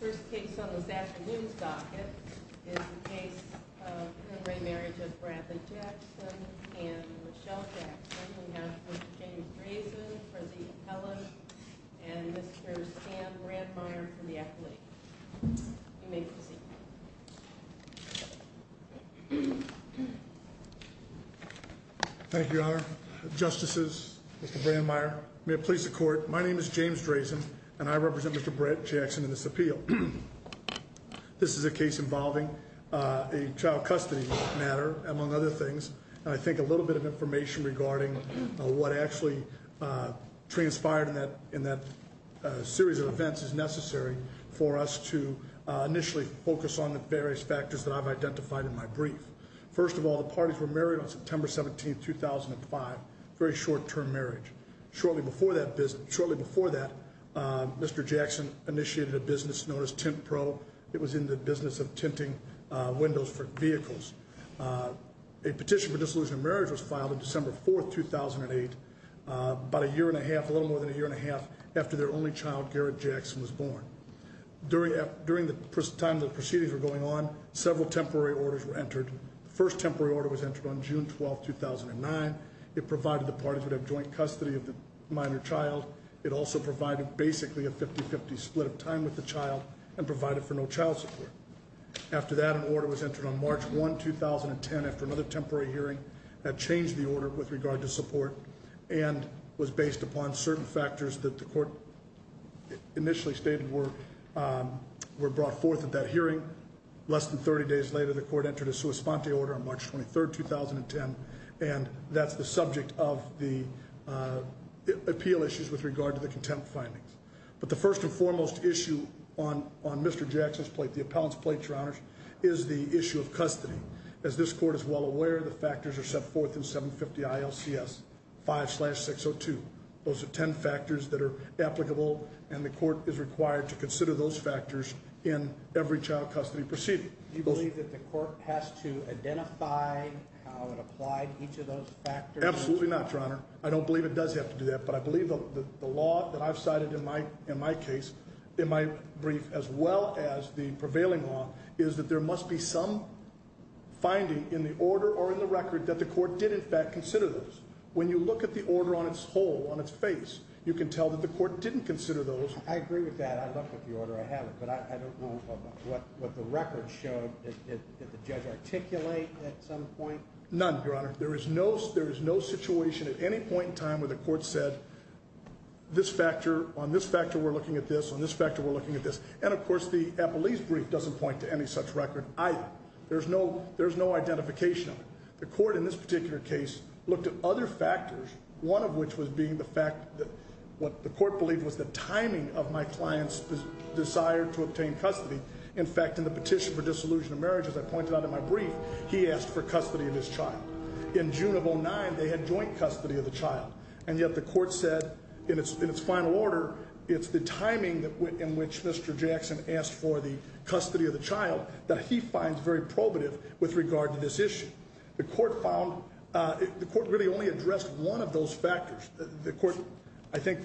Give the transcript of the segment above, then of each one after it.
First case on this afternoon's docket is the case of re Marriage of Bradley Jackson and Michelle Jackson. We have Mr. James Drazen for the appellate and Mr. Sam Brandmeier for the acolyte. You may proceed. Thank you, Your Honor. Justices, Mr. Brandmeier, may it please the court, my name is James Drazen and I represent Mr. Brett Jackson in this appeal. This is a case involving a child custody matter, among other things. And I think a little bit of information regarding what actually transpired in that series of events is necessary for us to initially focus on the various factors that I've identified in my brief. First of all, the parties were married on September 17, 2005. Very short term marriage. Shortly before that, Mr. Jackson initiated a business known as Tint Pro. It was in the business of tinting windows for vehicles. A petition for dissolution of marriage was filed on December 4, 2008, about a year and a half, a little more than a year and a half after their only child, Garrett Jackson, was born. During the time the proceedings were going on, several temporary orders were entered. The first temporary order was entered on June 12, 2009. It provided the parties would have joint custody of the minor child. It also provided basically a 50-50 split of time with the child and provided for no child support. After that, an order was entered on March 1, 2010 after another temporary hearing that changed the order with regard to support and was based upon certain factors that the court initially stated were brought forth at that hearing. Less than 30 days later, the court entered a sua sponte order on March 23, 2010, and that's the subject of the appeal issues with regard to the contempt findings. But the first and foremost issue on Mr. Jackson's plate, the appellant's plate, Your Honors, is the issue of custody. As this court is well aware, the factors are set forth in 750 ILCS 5-602. Those are 10 factors that are applicable, and the court is required to consider those factors in every child custody proceeding. Do you believe that the court has to identify how it applied each of those factors? Absolutely not, Your Honor. I don't believe it does have to do that. But I believe the law that I've cited in my case, in my brief, as well as the prevailing law, is that there must be some finding in the order or in the record that the court did in fact consider those. When you look at the order on its whole, on its face, you can tell that the court didn't consider those. I agree with that. I looked at the order. I have it. But I don't know what the record showed. Did the judge articulate at some point? None, Your Honor. There is no situation at any point in time where the court said, on this factor we're looking at this, on this factor we're looking at this. And, of course, the appellee's brief doesn't point to any such record either. There's no identification of it. The court in this particular case looked at other factors, one of which was being the fact that what the court believed was the timing of my client's desire to obtain custody. In fact, in the petition for dissolution of marriage, as I pointed out in my brief, he asked for custody of his child. In June of 2009, they had joint custody of the child. And yet the court said, in its final order, it's the timing in which Mr. Jackson asked for the custody of the child that he finds very probative with regard to this issue. The court found, the court really only addressed one of those factors. The court, I think,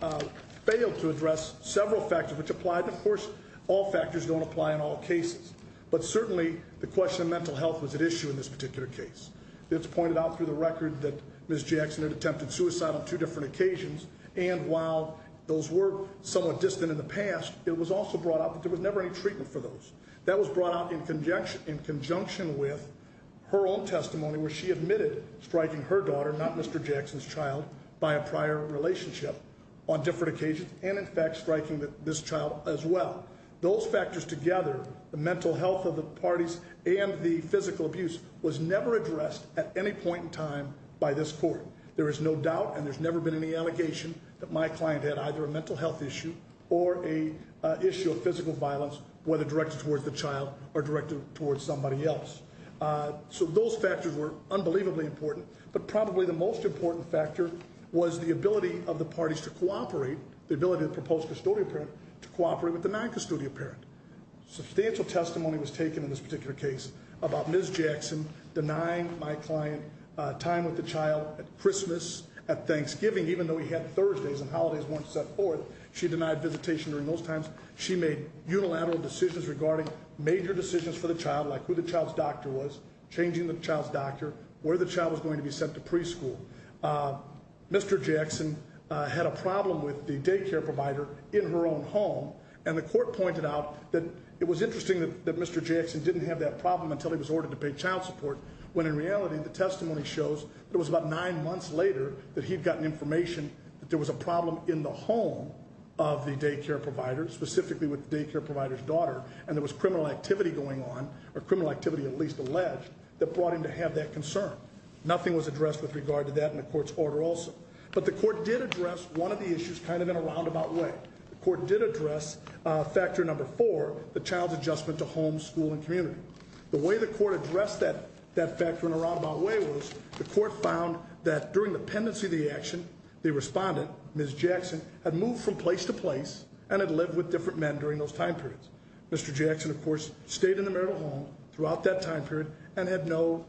failed to address several factors which applied. Of course, all factors don't apply in all cases. But certainly, the question of mental health was at issue in this particular case. It's pointed out through the record that Ms. Jackson had attempted suicide on two different occasions. And while those were somewhat distant in the past, it was also brought up that there was never any treatment for those. That was brought up in conjunction with her own testimony where she admitted striking her daughter, not Mr. Jackson's child, by a prior relationship on different occasions and, in fact, striking this child as well. Those factors together, the mental health of the parties and the physical abuse was never addressed at any point in time by this court. There is no doubt and there's never been any allegation that my client had either a mental health issue or an issue of physical violence, whether directed towards the child or directed towards somebody else. So those factors were unbelievably important. But probably the most important factor was the ability of the parties to cooperate, the ability of the proposed custodial parent to cooperate with the non-custodial parent. Substantial testimony was taken in this particular case about Ms. Jackson denying my client time with the child at Christmas, at Thanksgiving, even though he had Thursdays and holidays weren't set forth. She denied visitation during those times. She made unilateral decisions regarding major decisions for the child, like who the child's doctor was, changing the child's doctor, where the child was going to be sent to preschool. Mr. Jackson had a problem with the daycare provider in her own home, and the court pointed out that it was interesting that Mr. Jackson didn't have that problem until he was ordered to pay child support, when in reality the testimony shows that it was about nine months later that he'd gotten information that there was a problem in the home of the daycare provider, specifically with the daycare provider's daughter, and there was criminal activity going on, or criminal activity at least alleged, that brought him to have that concern. Nothing was addressed with regard to that in the court's order also. But the court did address one of the issues kind of in a roundabout way. The court did address factor number four, the child's adjustment to home, school, and community. The way the court addressed that factor in a roundabout way was the court found that during the pendency of the action, the respondent, Ms. Jackson, had moved from place to place and had lived with different men during those time periods. Mr. Jackson, of course, stayed in the marital home throughout that time period and had no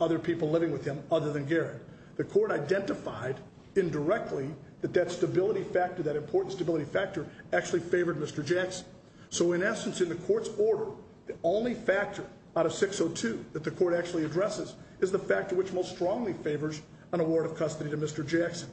other people living with him other than Garrett. The court identified indirectly that that stability factor, that important stability factor, actually favored Mr. Jackson. So in essence, in the court's order, the only factor out of 602 that the court actually addresses is the factor which most strongly favors an award of custody to Mr. Jackson.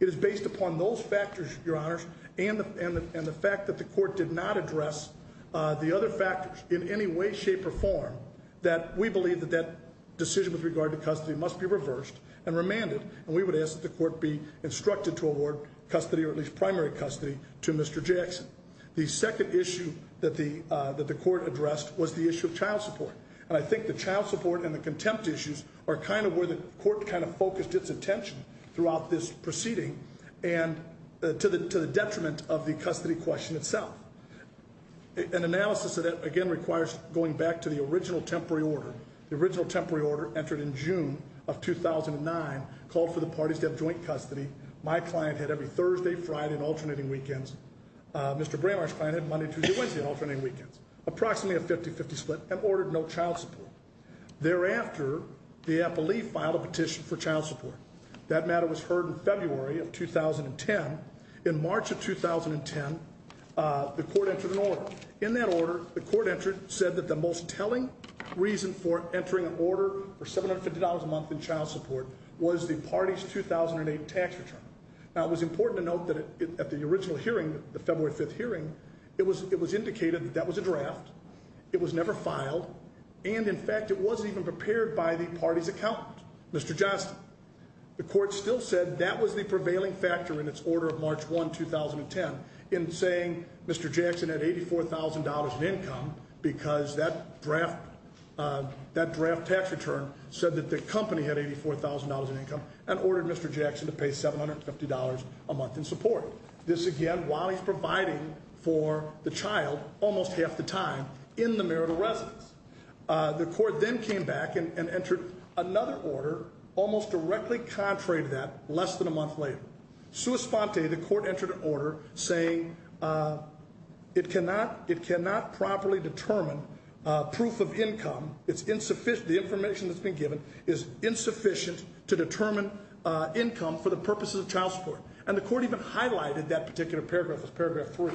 It is based upon those factors, Your Honors, and the fact that the court did not address the other factors in any way, shape, or form, that we believe that that decision with regard to custody must be reversed and remanded. And we would ask that the court be instructed to award custody, or at least primary custody, to Mr. Jackson. The second issue that the court addressed was the issue of child support. And I think the child support and the contempt issues are kind of where the court kind of focused its attention throughout this proceeding and to the detriment of the custody question itself. An analysis of that, again, requires going back to the original temporary order. The original temporary order entered in June of 2009, called for the parties to have joint custody. My client had every Thursday, Friday, and alternating weekends. Mr. Bramar's client had Monday, Tuesday, Wednesday and alternating weekends. Approximately a 50-50 split and ordered no child support. Thereafter, the appellee filed a petition for child support. That matter was heard in February of 2010. In March of 2010, the court entered an order. In that order, the court said that the most telling reason for entering an order for $750 a month in child support was the party's 2008 tax return. Now, it was important to note that at the original hearing, the February 5th hearing, it was indicated that that was a draft. It was never filed. And, in fact, it wasn't even prepared by the party's accountant, Mr. Johnston. The court still said that was the prevailing factor in its order of March 1, 2010 in saying Mr. Jackson had $84,000 in income because that draft tax return said that the company had $84,000 in income. And ordered Mr. Jackson to pay $750 a month in support. This, again, while he's providing for the child almost half the time in the merit of residence. The court then came back and entered another order almost directly contrary to that less than a month later. Suis Ponte, the court entered an order saying it cannot properly determine proof of income. The information that's been given is insufficient to determine income for the purposes of child support. And the court even highlighted that particular paragraph as paragraph 3.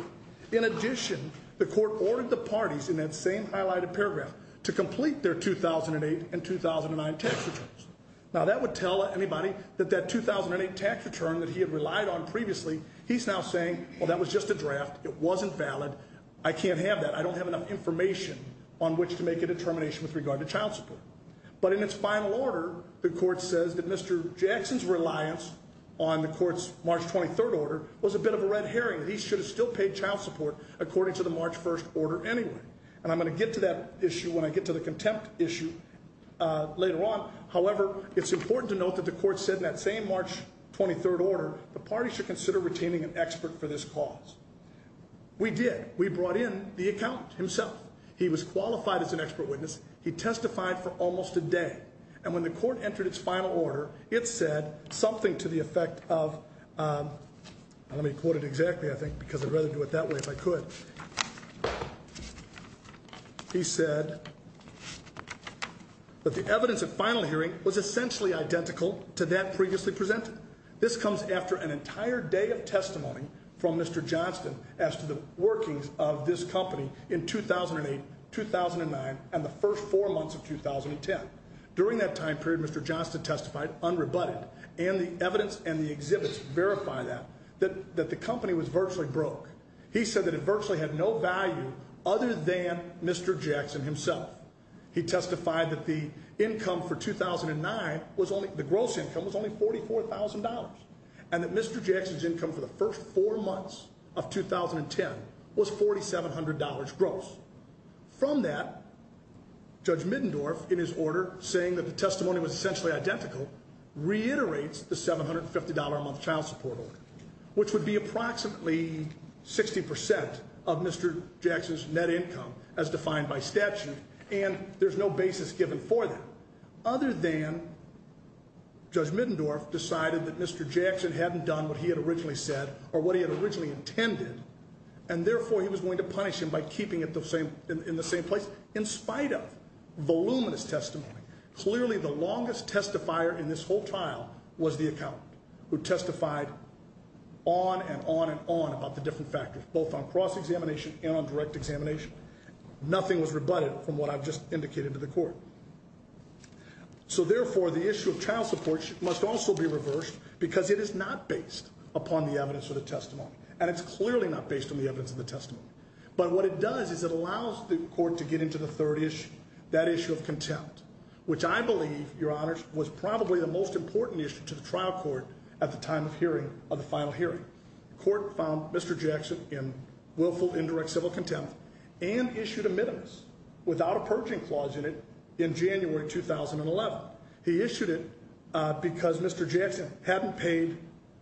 In addition, the court ordered the parties in that same highlighted paragraph to complete their 2008 and 2009 tax returns. Now, that would tell anybody that that 2008 tax return that he had relied on previously, he's now saying, well, that was just a draft. It wasn't valid. I can't have that. I don't have enough information on which to make a determination with regard to child support. But in its final order, the court says that Mr. Jackson's reliance on the court's March 23rd order was a bit of a red herring. He should have still paid child support according to the March 1st order anyway. And I'm going to get to that issue when I get to the contempt issue later on. However, it's important to note that the court said in that same March 23rd order the party should consider retaining an expert for this cause. We did. We brought in the accountant himself. He was qualified as an expert witness. He testified for almost a day. And when the court entered its final order, it said something to the effect of, let me quote it exactly, I think, because I'd rather do it that way if I could. He said that the evidence at final hearing was essentially identical to that previously presented. This comes after an entire day of testimony from Mr. Johnston as to the workings of this company in 2008, 2009, and the first four months of 2010. During that time period, Mr. Johnston testified unrebutted. And the evidence and the exhibits verify that, that the company was virtually broke. He said that it virtually had no value other than Mr. Jackson himself. He testified that the income for 2009, the gross income, was only $44,000. And that Mr. Jackson's income for the first four months of 2010 was $4,700 gross. From that, Judge Middendorf, in his order saying that the testimony was essentially identical, reiterates the $750 a month child support order, which would be approximately 60% of Mr. Jackson's net income as defined by statute. And there's no basis given for that other than Judge Middendorf decided that Mr. Jackson hadn't done what he had originally said or what he had originally intended. And therefore, he was going to punish him by keeping it in the same place in spite of voluminous testimony. Clearly, the longest testifier in this whole trial was the accountant who testified on and on and on about the different factors, both on cross-examination and on direct examination. Nothing was rebutted from what I've just indicated to the court. So therefore, the issue of child support must also be reversed because it is not based upon the evidence or the testimony. And it's clearly not based on the evidence of the testimony. But what it does is it allows the court to get into the third issue, that issue of contempt, which I believe, Your Honors, was probably the most important issue to the trial court at the time of hearing of the final hearing. The court found Mr. Jackson in willful indirect civil contempt and issued a minimus without a purging clause in it in January 2011. He issued it because Mr. Jackson hadn't paid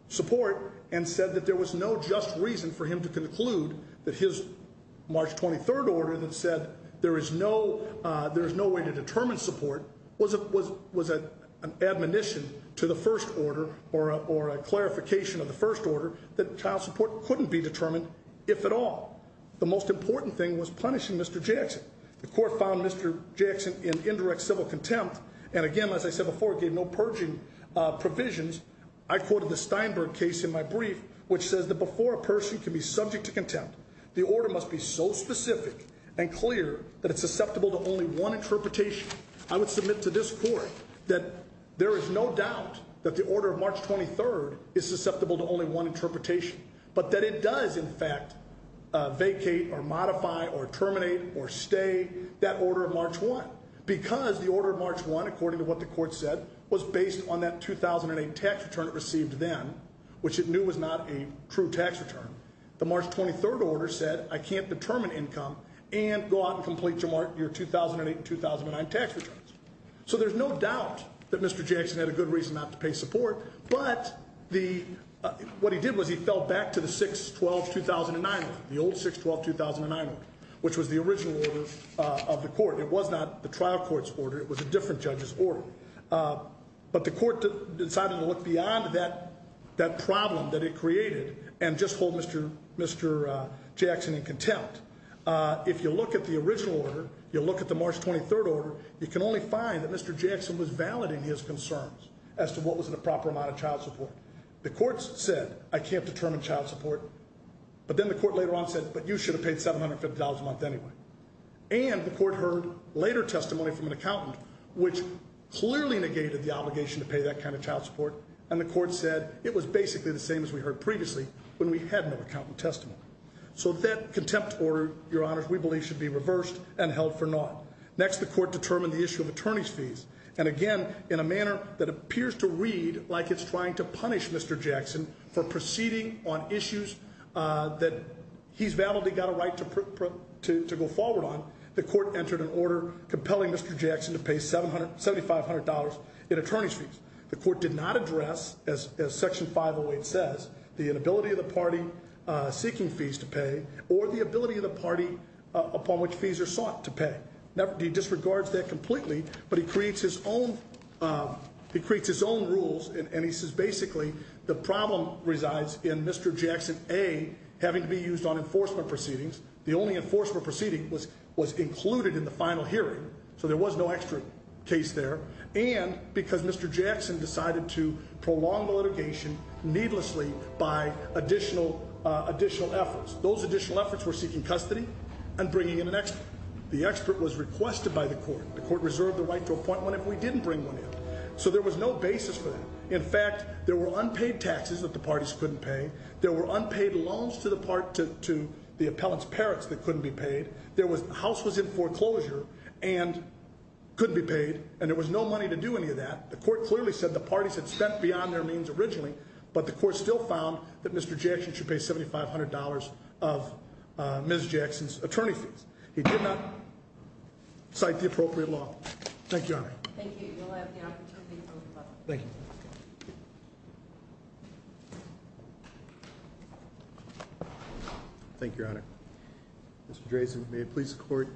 support and said that there was no just reason for him to conclude that his March 23rd order that said there is no way to determine support was an admonition to the first order or a clarification of the first order that child support couldn't be determined, if at all. The most important thing was punishing Mr. Jackson. The court found Mr. Jackson in indirect civil contempt and again, as I said before, gave no purging provisions. I quoted the Steinberg case in my brief, which says that before a person can be subject to contempt, the order must be so specific and clear that it's susceptible to only one interpretation. I would submit to this court that there is no doubt that the order of March 23rd is susceptible to only one interpretation, but that it does, in fact, vacate or modify or terminate or stay that order of March 1, because the order of March 1, according to what the court said, was based on that 2008 tax return it received then, which it knew was not a true tax return. The March 23rd order said I can't determine income and go out and complete your 2008 and 2009 tax returns. So there's no doubt that Mr. Jackson had a good reason not to pay support, but what he did was he fell back to the 6-12-2009 order, the old 6-12-2009 order, which was the original order of the court. It was not the trial court's order. It was a different judge's order. But the court decided to look beyond that problem that it created and just hold Mr. Jackson in contempt. If you look at the original order, you look at the March 23rd order, you can only find that Mr. Jackson was validating his concerns as to what was a proper amount of child support. The court said I can't determine child support, but then the court later on said, but you should have paid $750 a month anyway. And the court heard later testimony from an accountant, which clearly negated the obligation to pay that kind of child support, and the court said it was basically the same as we heard previously when we had no accountant testimony. So that contempt order, Your Honors, we believe should be reversed and held for naught. Next, the court determined the issue of attorney's fees. And again, in a manner that appears to read like it's trying to punish Mr. Jackson for proceeding on issues that he's validly got a right to go forward on, the court entered an order compelling Mr. Jackson to pay $7,500 in attorney's fees. The court did not address, as Section 508 says, the inability of the party seeking fees to pay, or the ability of the party upon which fees are sought to pay. He disregards that completely, but he creates his own rules, and he says basically, the problem resides in Mr. Jackson A having to be used on enforcement proceedings. The only enforcement proceeding was included in the final hearing, so there was no extra case there. And because Mr. Jackson decided to prolong the litigation needlessly by additional efforts. Those additional efforts were seeking custody and bringing in an expert. The expert was requested by the court. The court reserved the right to appoint one if we didn't bring one in. So there was no basis for that. In fact, there were unpaid taxes that the parties couldn't pay. There were unpaid loans to the appellant's parents that couldn't be paid. The house was in foreclosure and could be paid, and there was no money to do any of that. The court clearly said the parties had spent beyond their means originally, but the court still found that Mr. Jackson should pay $7,500 of Ms. Jackson's attorney fees. He did not cite the appropriate law. Thank you, Your Honor. Thank you. You'll have the opportunity to vote. Thank you. Thank you, Your Honor. Mr. Drazen, may it please the court.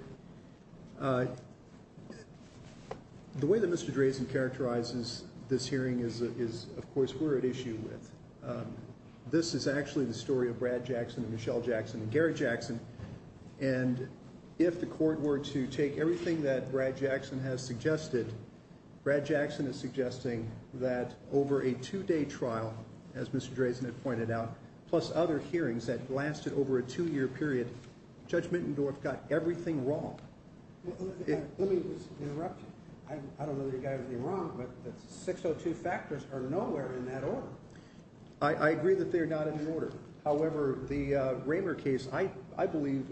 The way that Mr. Drazen characterizes this hearing is, of course, we're at issue with. This is actually the story of Brad Jackson and Michelle Jackson and Gary Jackson. And if the court were to take everything that Brad Jackson has suggested, Brad Jackson is suggesting that over a two-day trial, as Mr. Drazen had pointed out, plus other hearings that lasted over a two-year period, Judge Mittendorf got everything wrong. Let me interrupt you. I don't know that you guys are wrong, but the 602 factors are nowhere in that order. I agree that they're not in order. However, the Raymer case, I believe,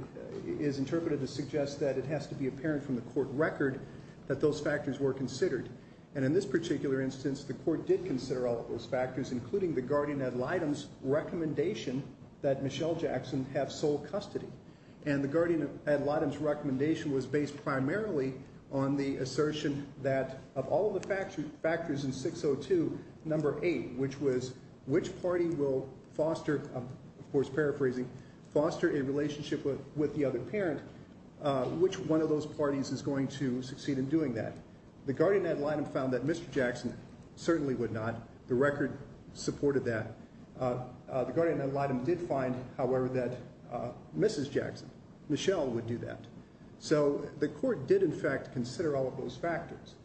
is interpreted to suggest that it has to be apparent from the court record that those factors were considered. And in this particular instance, the court did consider all of those factors, including the guardian ad litem's recommendation that Michelle Jackson have sole custody. And the guardian ad litem's recommendation was based primarily on the assertion that, of all of the factors in 602, number eight, which was which party will foster, of course, paraphrasing, foster a relationship with the other parent, which one of those parties is going to succeed in doing that. The guardian ad litem found that Mr. Jackson certainly would not. The record supported that. The guardian ad litem did find, however, that Mrs. Jackson, Michelle, would do that. So the court did, in fact, consider all of those factors.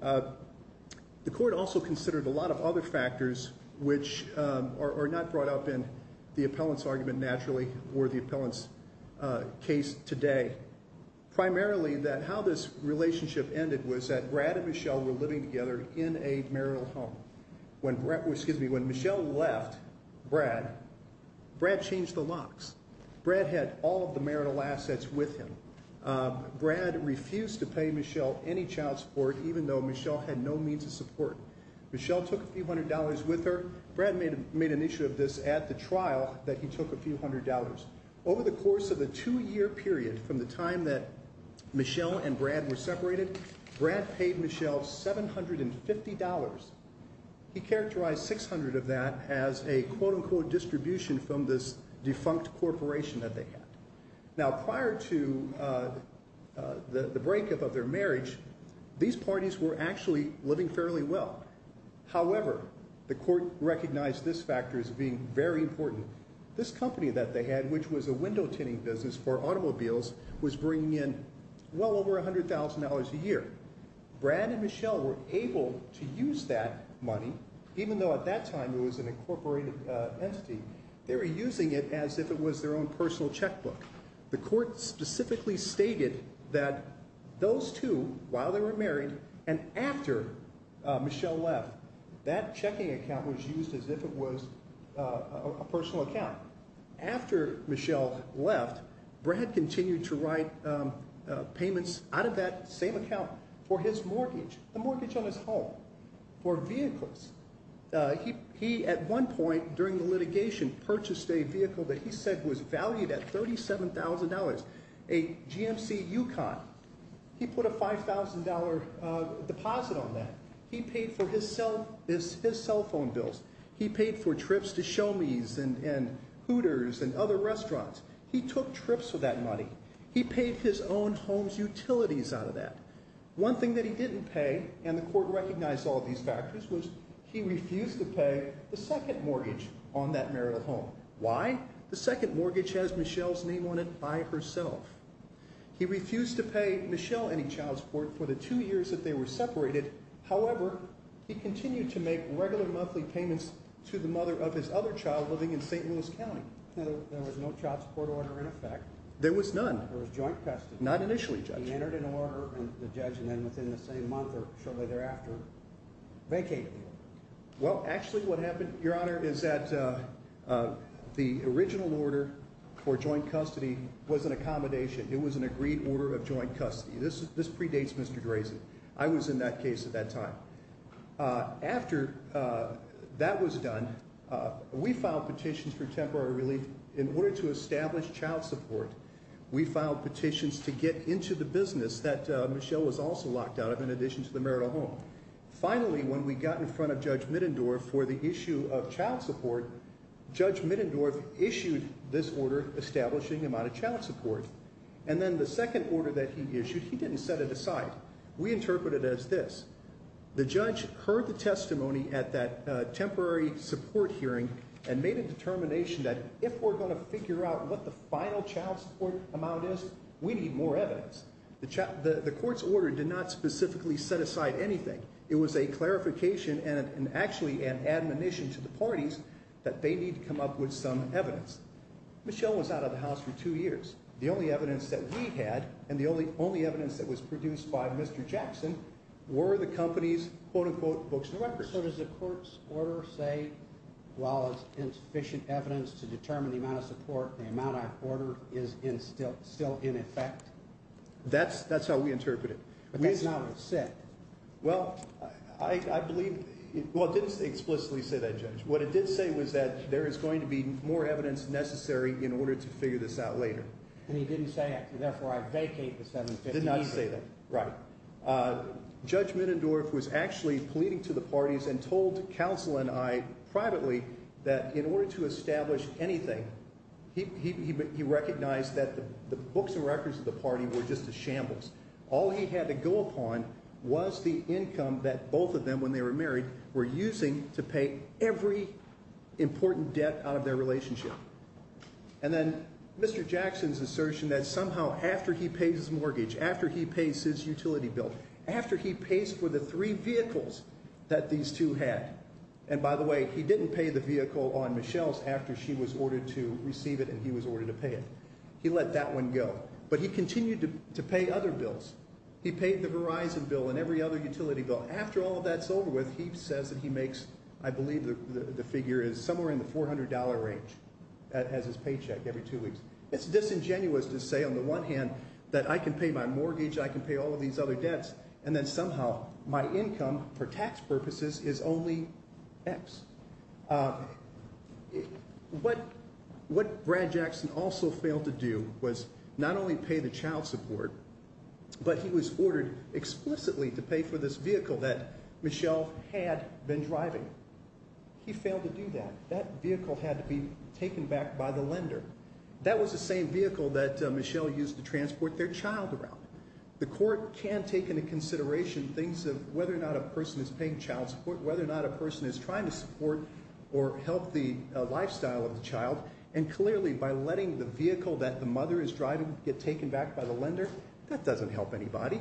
The court also considered a lot of other factors which are not brought up in the appellant's argument naturally or the appellant's case today. Primarily, how this relationship ended was that Brad and Michelle were living together in a marital home. When Michelle left Brad, Brad changed the locks. Brad had all of the marital assets with him. Brad refused to pay Michelle any child support, even though Michelle had no means of support. Michelle took a few hundred dollars with her. Brad made an issue of this at the trial that he took a few hundred dollars. Over the course of the two-year period from the time that Michelle and Brad were separated, Brad paid Michelle $750. He characterized $600 of that as a quote-unquote distribution from this defunct corporation that they had. Now, prior to the breakup of their marriage, these parties were actually living fairly well. However, the court recognized this factor as being very important. This company that they had, which was a window-tinning business for automobiles, was bringing in well over $100,000 a year. Brad and Michelle were able to use that money, even though at that time it was an incorporated entity. They were using it as if it was their own personal checkbook. The court specifically stated that those two, while they were married and after Michelle left, that checking account was used as if it was a personal account. After Michelle left, Brad continued to write payments out of that same account for his mortgage, the mortgage on his home, for vehicles. He, at one point during the litigation, purchased a vehicle that he said was valued at $37,000, a GMC Yukon. He put a $5,000 deposit on that. He paid for his cell phone bills. He paid for trips to Show Me's and Hooters and other restaurants. He took trips for that money. He paid his own home's utilities out of that. One thing that he didn't pay, and the court recognized all of these factors, was he refused to pay the second mortgage on that marital home. Why? The second mortgage has Michelle's name on it by herself. He refused to pay Michelle any child support for the two years that they were separated. However, he continued to make regular monthly payments to the mother of his other child living in St. Louis County. There was no child support order in effect. There was none. There was joint custody. Not initially, Judge. He entered an order, and the judge, and then within the same month or shortly thereafter, vacated the order. Well, actually what happened, Your Honor, is that the original order for joint custody was an accommodation. It was an agreed order of joint custody. This predates Mr. Grayson. I was in that case at that time. After that was done, we filed petitions for temporary relief. In order to establish child support, we filed petitions to get into the business that Michelle was also locked out of in addition to the marital home. Finally, when we got in front of Judge Middendorf for the issue of child support, Judge Middendorf issued this order establishing amount of child support. And then the second order that he issued, he didn't set it aside. We interpreted it as this. The judge heard the testimony at that temporary support hearing and made a determination that if we're going to figure out what the final child support amount is, we need more evidence. The court's order did not specifically set aside anything. It was a clarification and actually an admonition to the parties that they need to come up with some evidence. Michelle was out of the house for two years. The only evidence that we had and the only evidence that was produced by Mr. Jackson were the company's quote-unquote books and records. So does the court's order say, while it's insufficient evidence to determine the amount of support, the amount of order is still in effect? That's how we interpret it. But that's not what it said. Well, I believe—well, it didn't explicitly say that, Judge. What it did say was that there is going to be more evidence necessary in order to figure this out later. And he didn't say, therefore, I vacate the 750. Did not say that, right. Judge Minendorf was actually pleading to the parties and told counsel and I privately that in order to establish anything, he recognized that the books and records of the party were just a shambles. All he had to go upon was the income that both of them, when they were married, were using to pay every important debt out of their relationship. And then Mr. Jackson's assertion that somehow after he pays his mortgage, after he pays his utility bill, after he pays for the three vehicles that these two had— and by the way, he didn't pay the vehicle on Michelle's after she was ordered to receive it and he was ordered to pay it. He let that one go. But he continued to pay other bills. He paid the Verizon bill and every other utility bill. And after all of that's over with, he says that he makes, I believe the figure is somewhere in the $400 range as his paycheck every two weeks. It's disingenuous to say on the one hand that I can pay my mortgage, I can pay all of these other debts, and then somehow my income for tax purposes is only X. What Brad Jackson also failed to do was not only pay the child support, but he was ordered explicitly to pay for this vehicle that Michelle had been driving. He failed to do that. That vehicle had to be taken back by the lender. That was the same vehicle that Michelle used to transport their child around. The court can take into consideration things of whether or not a person is paying child support, whether or not a person is trying to support or help the lifestyle of the child. And clearly, by letting the vehicle that the mother is driving get taken back by the lender, that doesn't help anybody.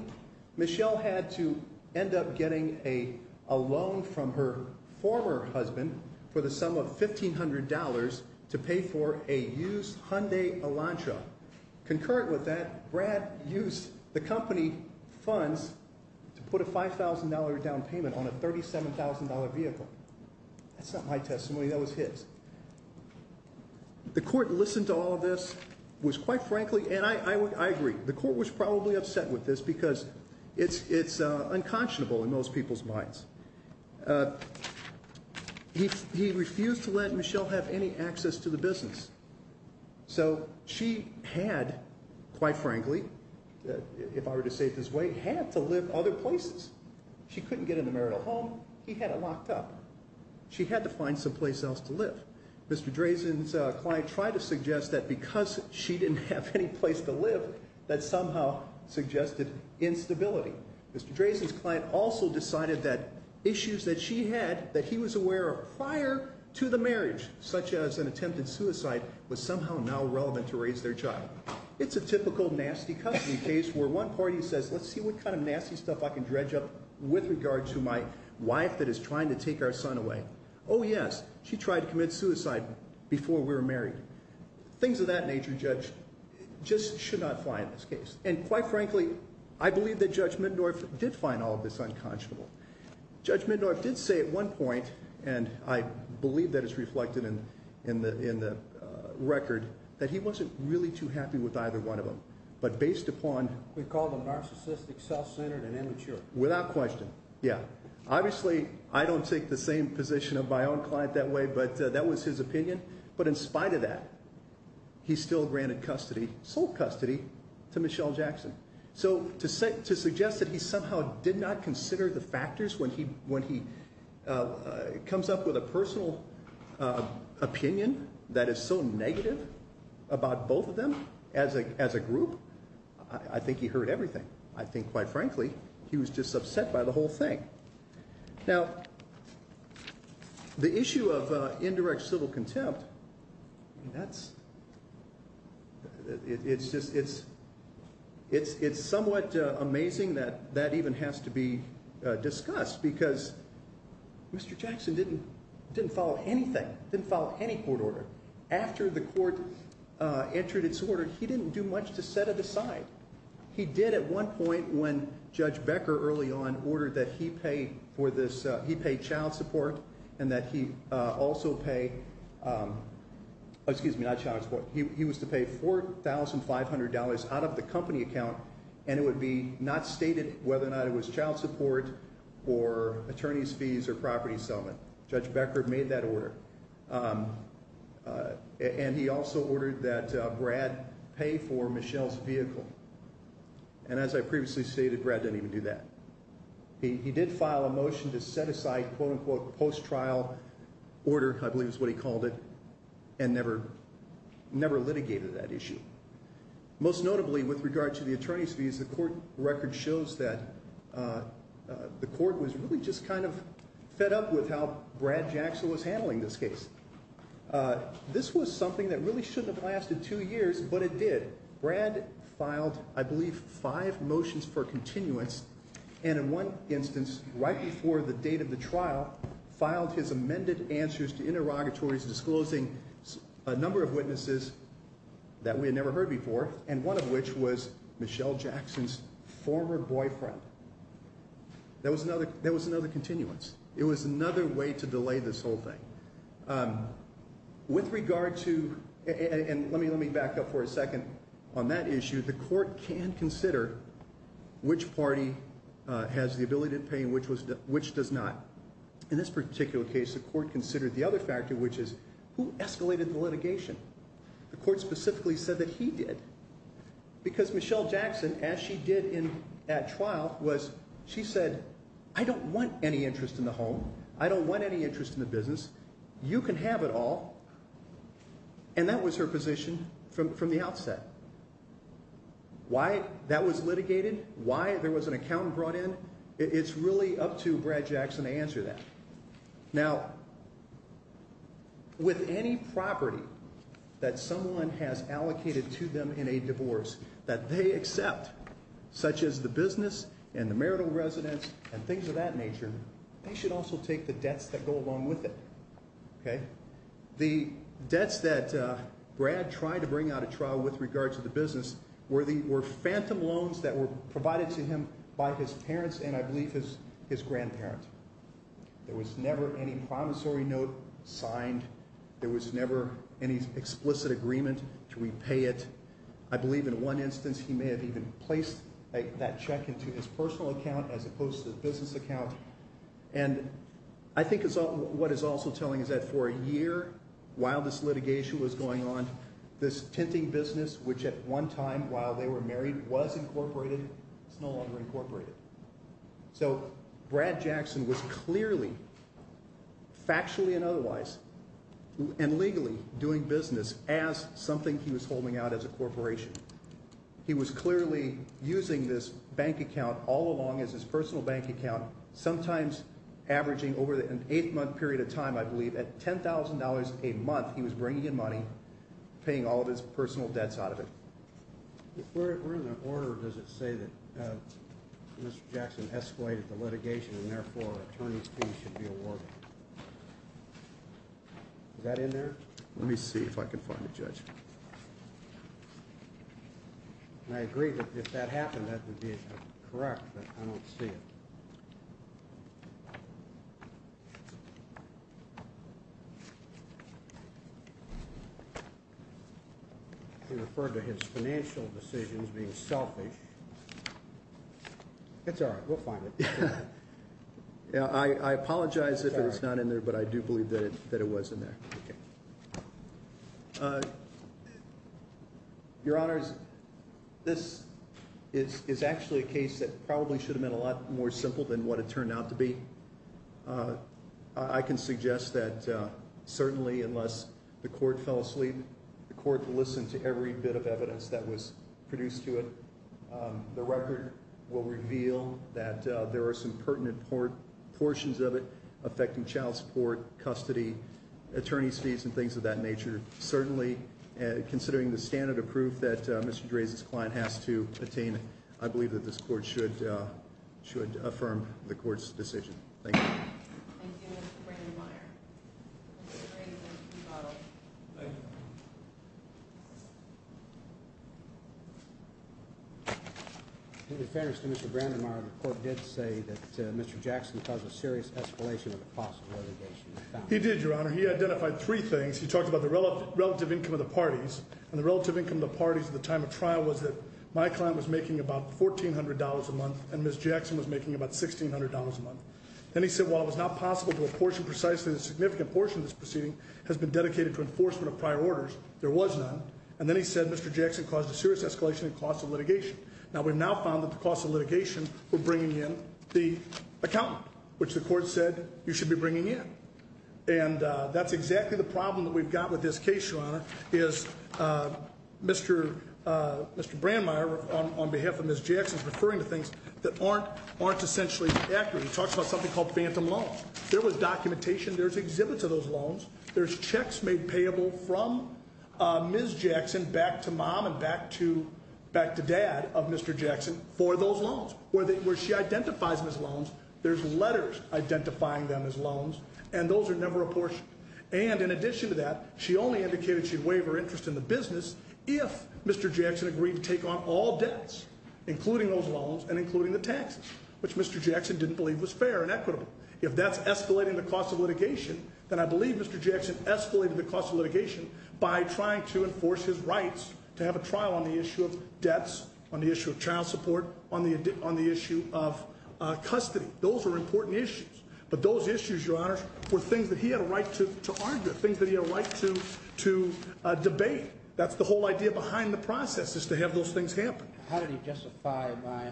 Michelle had to end up getting a loan from her former husband for the sum of $1,500 to pay for a used Hyundai Elantra. Concurrent with that, Brad used the company funds to put a $5,000 down payment on a $37,000 vehicle. That's not my testimony. That was his. The court listened to all of this, was quite frankly, and I agree. The court was probably upset with this because it's unconscionable in most people's minds. He refused to let Michelle have any access to the business. So she had, quite frankly, if I were to say it this way, had to live other places. She couldn't get in the marital home. He had it locked up. She had to find someplace else to live. Mr. Drazen's client tried to suggest that because she didn't have any place to live, that somehow suggested instability. Mr. Drazen's client also decided that issues that she had that he was aware of prior to the marriage, such as an attempted suicide, was somehow now relevant to raise their child. It's a typical nasty custody case where one party says, let's see what kind of nasty stuff I can dredge up with regard to my wife that is trying to take our son away. Oh yes, she tried to commit suicide before we were married. Things of that nature, Judge, just should not fly in this case. And quite frankly, I believe that Judge Middendorf did find all of this unconscionable. Judge Middendorf did say at one point, and I believe that is reflected in the record, that he wasn't really too happy with either one of them. But based upon… He called them narcissistic, self-centered, and immature. Without question, yeah. Obviously, I don't take the same position of my own client that way, but that was his opinion. But in spite of that, he still granted custody, sole custody, to Michelle Jackson. So to suggest that he somehow did not consider the factors when he comes up with a personal opinion that is so negative about both of them as a group, I think he heard everything. I think, quite frankly, he was just upset by the whole thing. Now, the issue of indirect civil contempt, it's somewhat amazing that that even has to be discussed because Mr. Jackson didn't follow anything, didn't follow any court order. After the court entered its order, he didn't do much to set it aside. He did at one point when Judge Becker, early on, ordered that he pay child support and that he also pay… Excuse me, not child support. He was to pay $4,500 out of the company account, and it would be not stated whether or not it was child support or attorney's fees or property settlement. Judge Becker made that order. And he also ordered that Brad pay for Michelle's vehicle. And as I previously stated, Brad didn't even do that. He did file a motion to set aside, quote-unquote, post-trial order, I believe is what he called it, and never litigated that issue. Most notably, with regard to the attorney's fees, the court record shows that the court was really just kind of fed up with how Brad Jackson was handling this case. This was something that really shouldn't have lasted two years, but it did. Brad filed, I believe, five motions for continuance, and in one instance, right before the date of the trial, filed his amended answers to interrogatories disclosing a number of witnesses that we had never heard before, and one of which was Michelle Jackson's former boyfriend. There was another continuance. It was another way to delay this whole thing. With regard to, and let me back up for a second on that issue, the court can consider which party has the ability to pay and which does not. In this particular case, the court considered the other factor, which is who escalated the litigation? The court specifically said that he did. Because Michelle Jackson, as she did at trial, she said, I don't want any interest in the home. I don't want any interest in the business. You can have it all. And that was her position from the outset. Why that was litigated, why there was an accountant brought in, it's really up to Brad Jackson to answer that. Now, with any property that someone has allocated to them in a divorce that they accept, such as the business and the marital residence and things of that nature, they should also take the debts that go along with it. Okay? The debts that Brad tried to bring out at trial with regard to the business were phantom loans that were provided to him by his parents and I believe his grandparent. There was never any promissory note signed. There was never any explicit agreement to repay it. I believe in one instance he may have even placed that check into his personal account as opposed to the business account. And I think what it's also telling is that for a year while this litigation was going on, this tinting business, which at one time while they were married was incorporated, is no longer incorporated. So Brad Jackson was clearly, factually and otherwise, and legally doing business as something he was holding out as a corporation. He was clearly using this bank account all along as his personal bank account, sometimes averaging over an eight-month period of time, I believe, at $10,000 a month he was bringing in money, paying all of his personal debts out of it. If we're in the order, does it say that Mr. Jackson escalated the litigation and therefore an attorney's fee should be awarded? Is that in there? Let me see if I can find a judge. And I agree that if that happened, that would be correct, but I don't see it. He referred to his financial decisions being selfish. It's all right. We'll find it. I apologize if it's not in there, but I do believe that it was in there. Your Honor, this is actually a case that probably should have been a lot more simple than what it turned out to be. I can suggest that certainly unless the court fell asleep, the court listened to every bit of evidence that was produced to it. The record will reveal that there are some pertinent portions of it affecting child support, custody, attorney's fees, and things of that nature. Certainly, considering the standard of proof that Mr. Dreze's client has to attain, I believe that this court should affirm the court's decision. Thank you. Thank you, Mr. Brandenmeier. Mr. Dreze, you may be followed. Thank you. In fairness to Mr. Brandenmeier, the court did say that Mr. Jackson caused a serious escalation in the cost of litigation. He did, Your Honor. He identified three things. He talked about the relative income of the parties, and the relative income of the parties at the time of trial was that my client was making about $1,400 a month and Ms. Jackson was making about $1,600 a month. Then he said while it was not possible to apportion precisely the significant portion of this proceeding has been dedicated to enforcement of prior orders, there was none. And then he said Mr. Jackson caused a serious escalation in cost of litigation. Now, we've now found that the cost of litigation were bringing in the accountant, which the court said you should be bringing in. And that's exactly the problem that we've got with this case, Your Honor, is Mr. Brandenmeier, on behalf of Ms. Jackson, is referring to things that aren't essentially accurate. He talks about something called phantom loans. There was documentation. There's exhibits of those loans. There's checks made payable from Ms. Jackson back to mom and back to dad of Mr. Jackson for those loans. Where she identifies them as loans, there's letters identifying them as loans, and those are never apportioned. And in addition to that, she only indicated she'd waive her interest in the business if Mr. Jackson agreed to take on all debts, including those loans and including the taxes, which Mr. Jackson didn't believe was fair and equitable. If that's escalating the cost of litigation, then I believe Mr. Jackson escalated the cost of litigation by trying to enforce his rights to have a trial on the issue of debts, on the issue of child support, on the issue of custody. Those are important issues. But those issues, Your Honor, were things that he had a right to argue, things that he had a right to debate. That's the whole idea behind the process is to have those things happen. How did he justify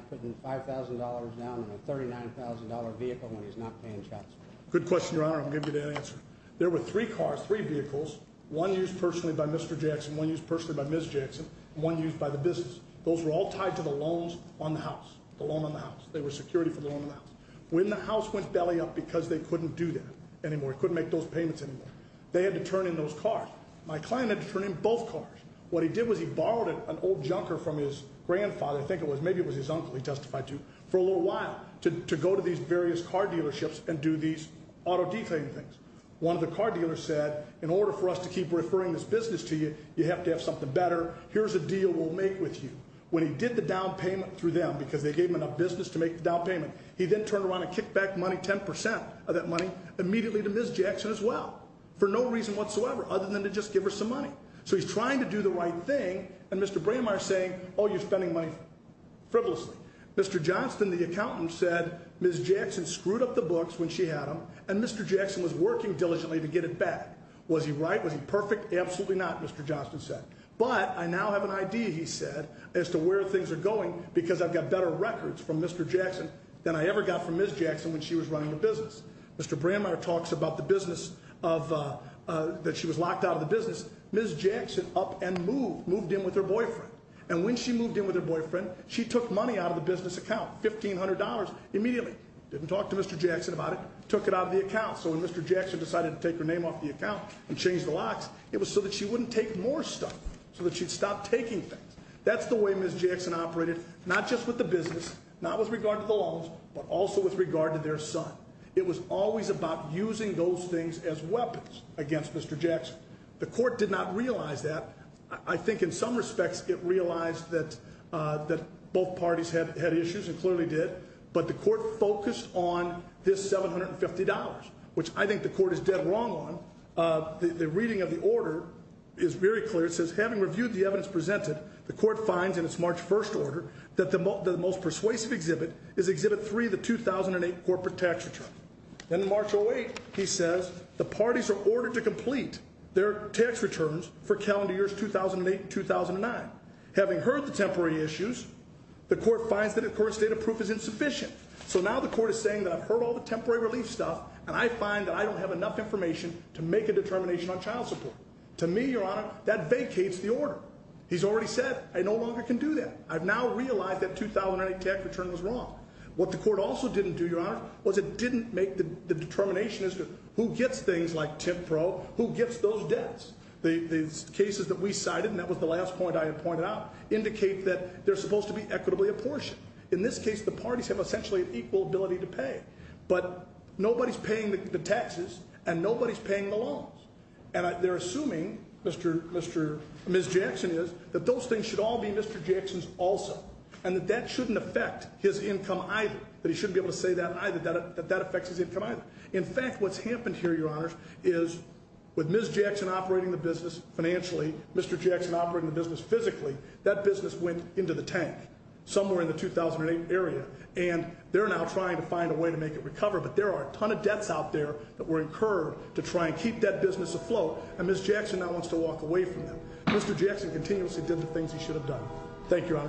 putting $5,000 down on a $39,000 vehicle when he's not paying child support? Good question, Your Honor. I'm going to give you the answer. There were three cars, three vehicles, one used personally by Mr. Jackson, one used personally by Ms. Jackson, and one used by the business. Those were all tied to the loans on the house, the loan on the house. They were security for the loan on the house. When the house went belly up because they couldn't do that anymore, couldn't make those payments anymore, they had to turn in those cars. My client had to turn in both cars. What he did was he borrowed an old junker from his grandfather, I think it was, maybe it was his uncle he testified to, for a little while to go to these various car dealerships and do these auto detailing things. One of the car dealers said, in order for us to keep referring this business to you, you have to have something better. Here's a deal we'll make with you. When he did the down payment through them because they gave him enough business to make the down payment, he then turned around and kicked back money, 10% of that money, immediately to Ms. Jackson as well for no reason whatsoever other than to just give her some money. So he's trying to do the right thing, and Mr. Brandmeier's saying, oh, you're spending money frivolously. Mr. Johnston, the accountant, said Ms. Jackson screwed up the books when she had them, and Mr. Jackson was working diligently to get it back. Was he right? Was he perfect? Absolutely not, Mr. Johnston said. But I now have an idea, he said, as to where things are going because I've got better records from Mr. Jackson than I ever got from Ms. Jackson when she was running the business. Mr. Brandmeier talks about the business of, that she was locked out of the business. Ms. Jackson up and moved, moved in with her boyfriend. And when she moved in with her boyfriend, she took money out of the business account, $1,500 immediately. Didn't talk to Mr. Jackson about it, took it out of the account. So when Mr. Jackson decided to take her name off the account and change the locks, it was so that she wouldn't take more stuff, so that she'd stop taking things. That's the way Ms. Jackson operated, not just with the business, not with regard to the loans, but also with regard to their son. It was always about using those things as weapons against Mr. Jackson. The court did not realize that. I think in some respects it realized that both parties had issues and clearly did. But the court focused on this $750, which I think the court is dead wrong on. The reading of the order is very clear. It says, having reviewed the evidence presented, the court finds in its March 1st order that the most persuasive exhibit is exhibit 3, the 2008 corporate tax return. In March 08, he says, the parties are ordered to complete their tax returns for calendar years 2008 and 2009. Having heard the temporary issues, the court finds that the court's data proof is insufficient. So now the court is saying that I've heard all the temporary relief stuff, and I find that I don't have enough information to make a determination on child support. To me, Your Honor, that vacates the order. He's already said, I no longer can do that. I've now realized that 2008 tax return was wrong. What the court also didn't do, Your Honor, was it didn't make the determination as to who gets things like tip pro, who gets those debts. These cases that we cited, and that was the last point I had pointed out, indicate that they're supposed to be equitably apportioned. In this case, the parties have essentially an equal ability to pay. But nobody's paying the taxes, and nobody's paying the loans. And they're assuming, Ms. Jackson is, that those things should all be Mr. Jackson's also. And that that shouldn't affect his income either, that he shouldn't be able to save that either, that that affects his income either. In fact, what's happened here, Your Honor, is with Ms. Jackson operating the business financially, Mr. Jackson operating the business physically, that business went into the tank somewhere in the 2008 area. And they're now trying to find a way to make it recover. But there are a ton of debts out there that were incurred to try and keep that business afloat. And Ms. Jackson now wants to walk away from them. Mr. Jackson continuously did the things he should have done. Thank you, Your Honor.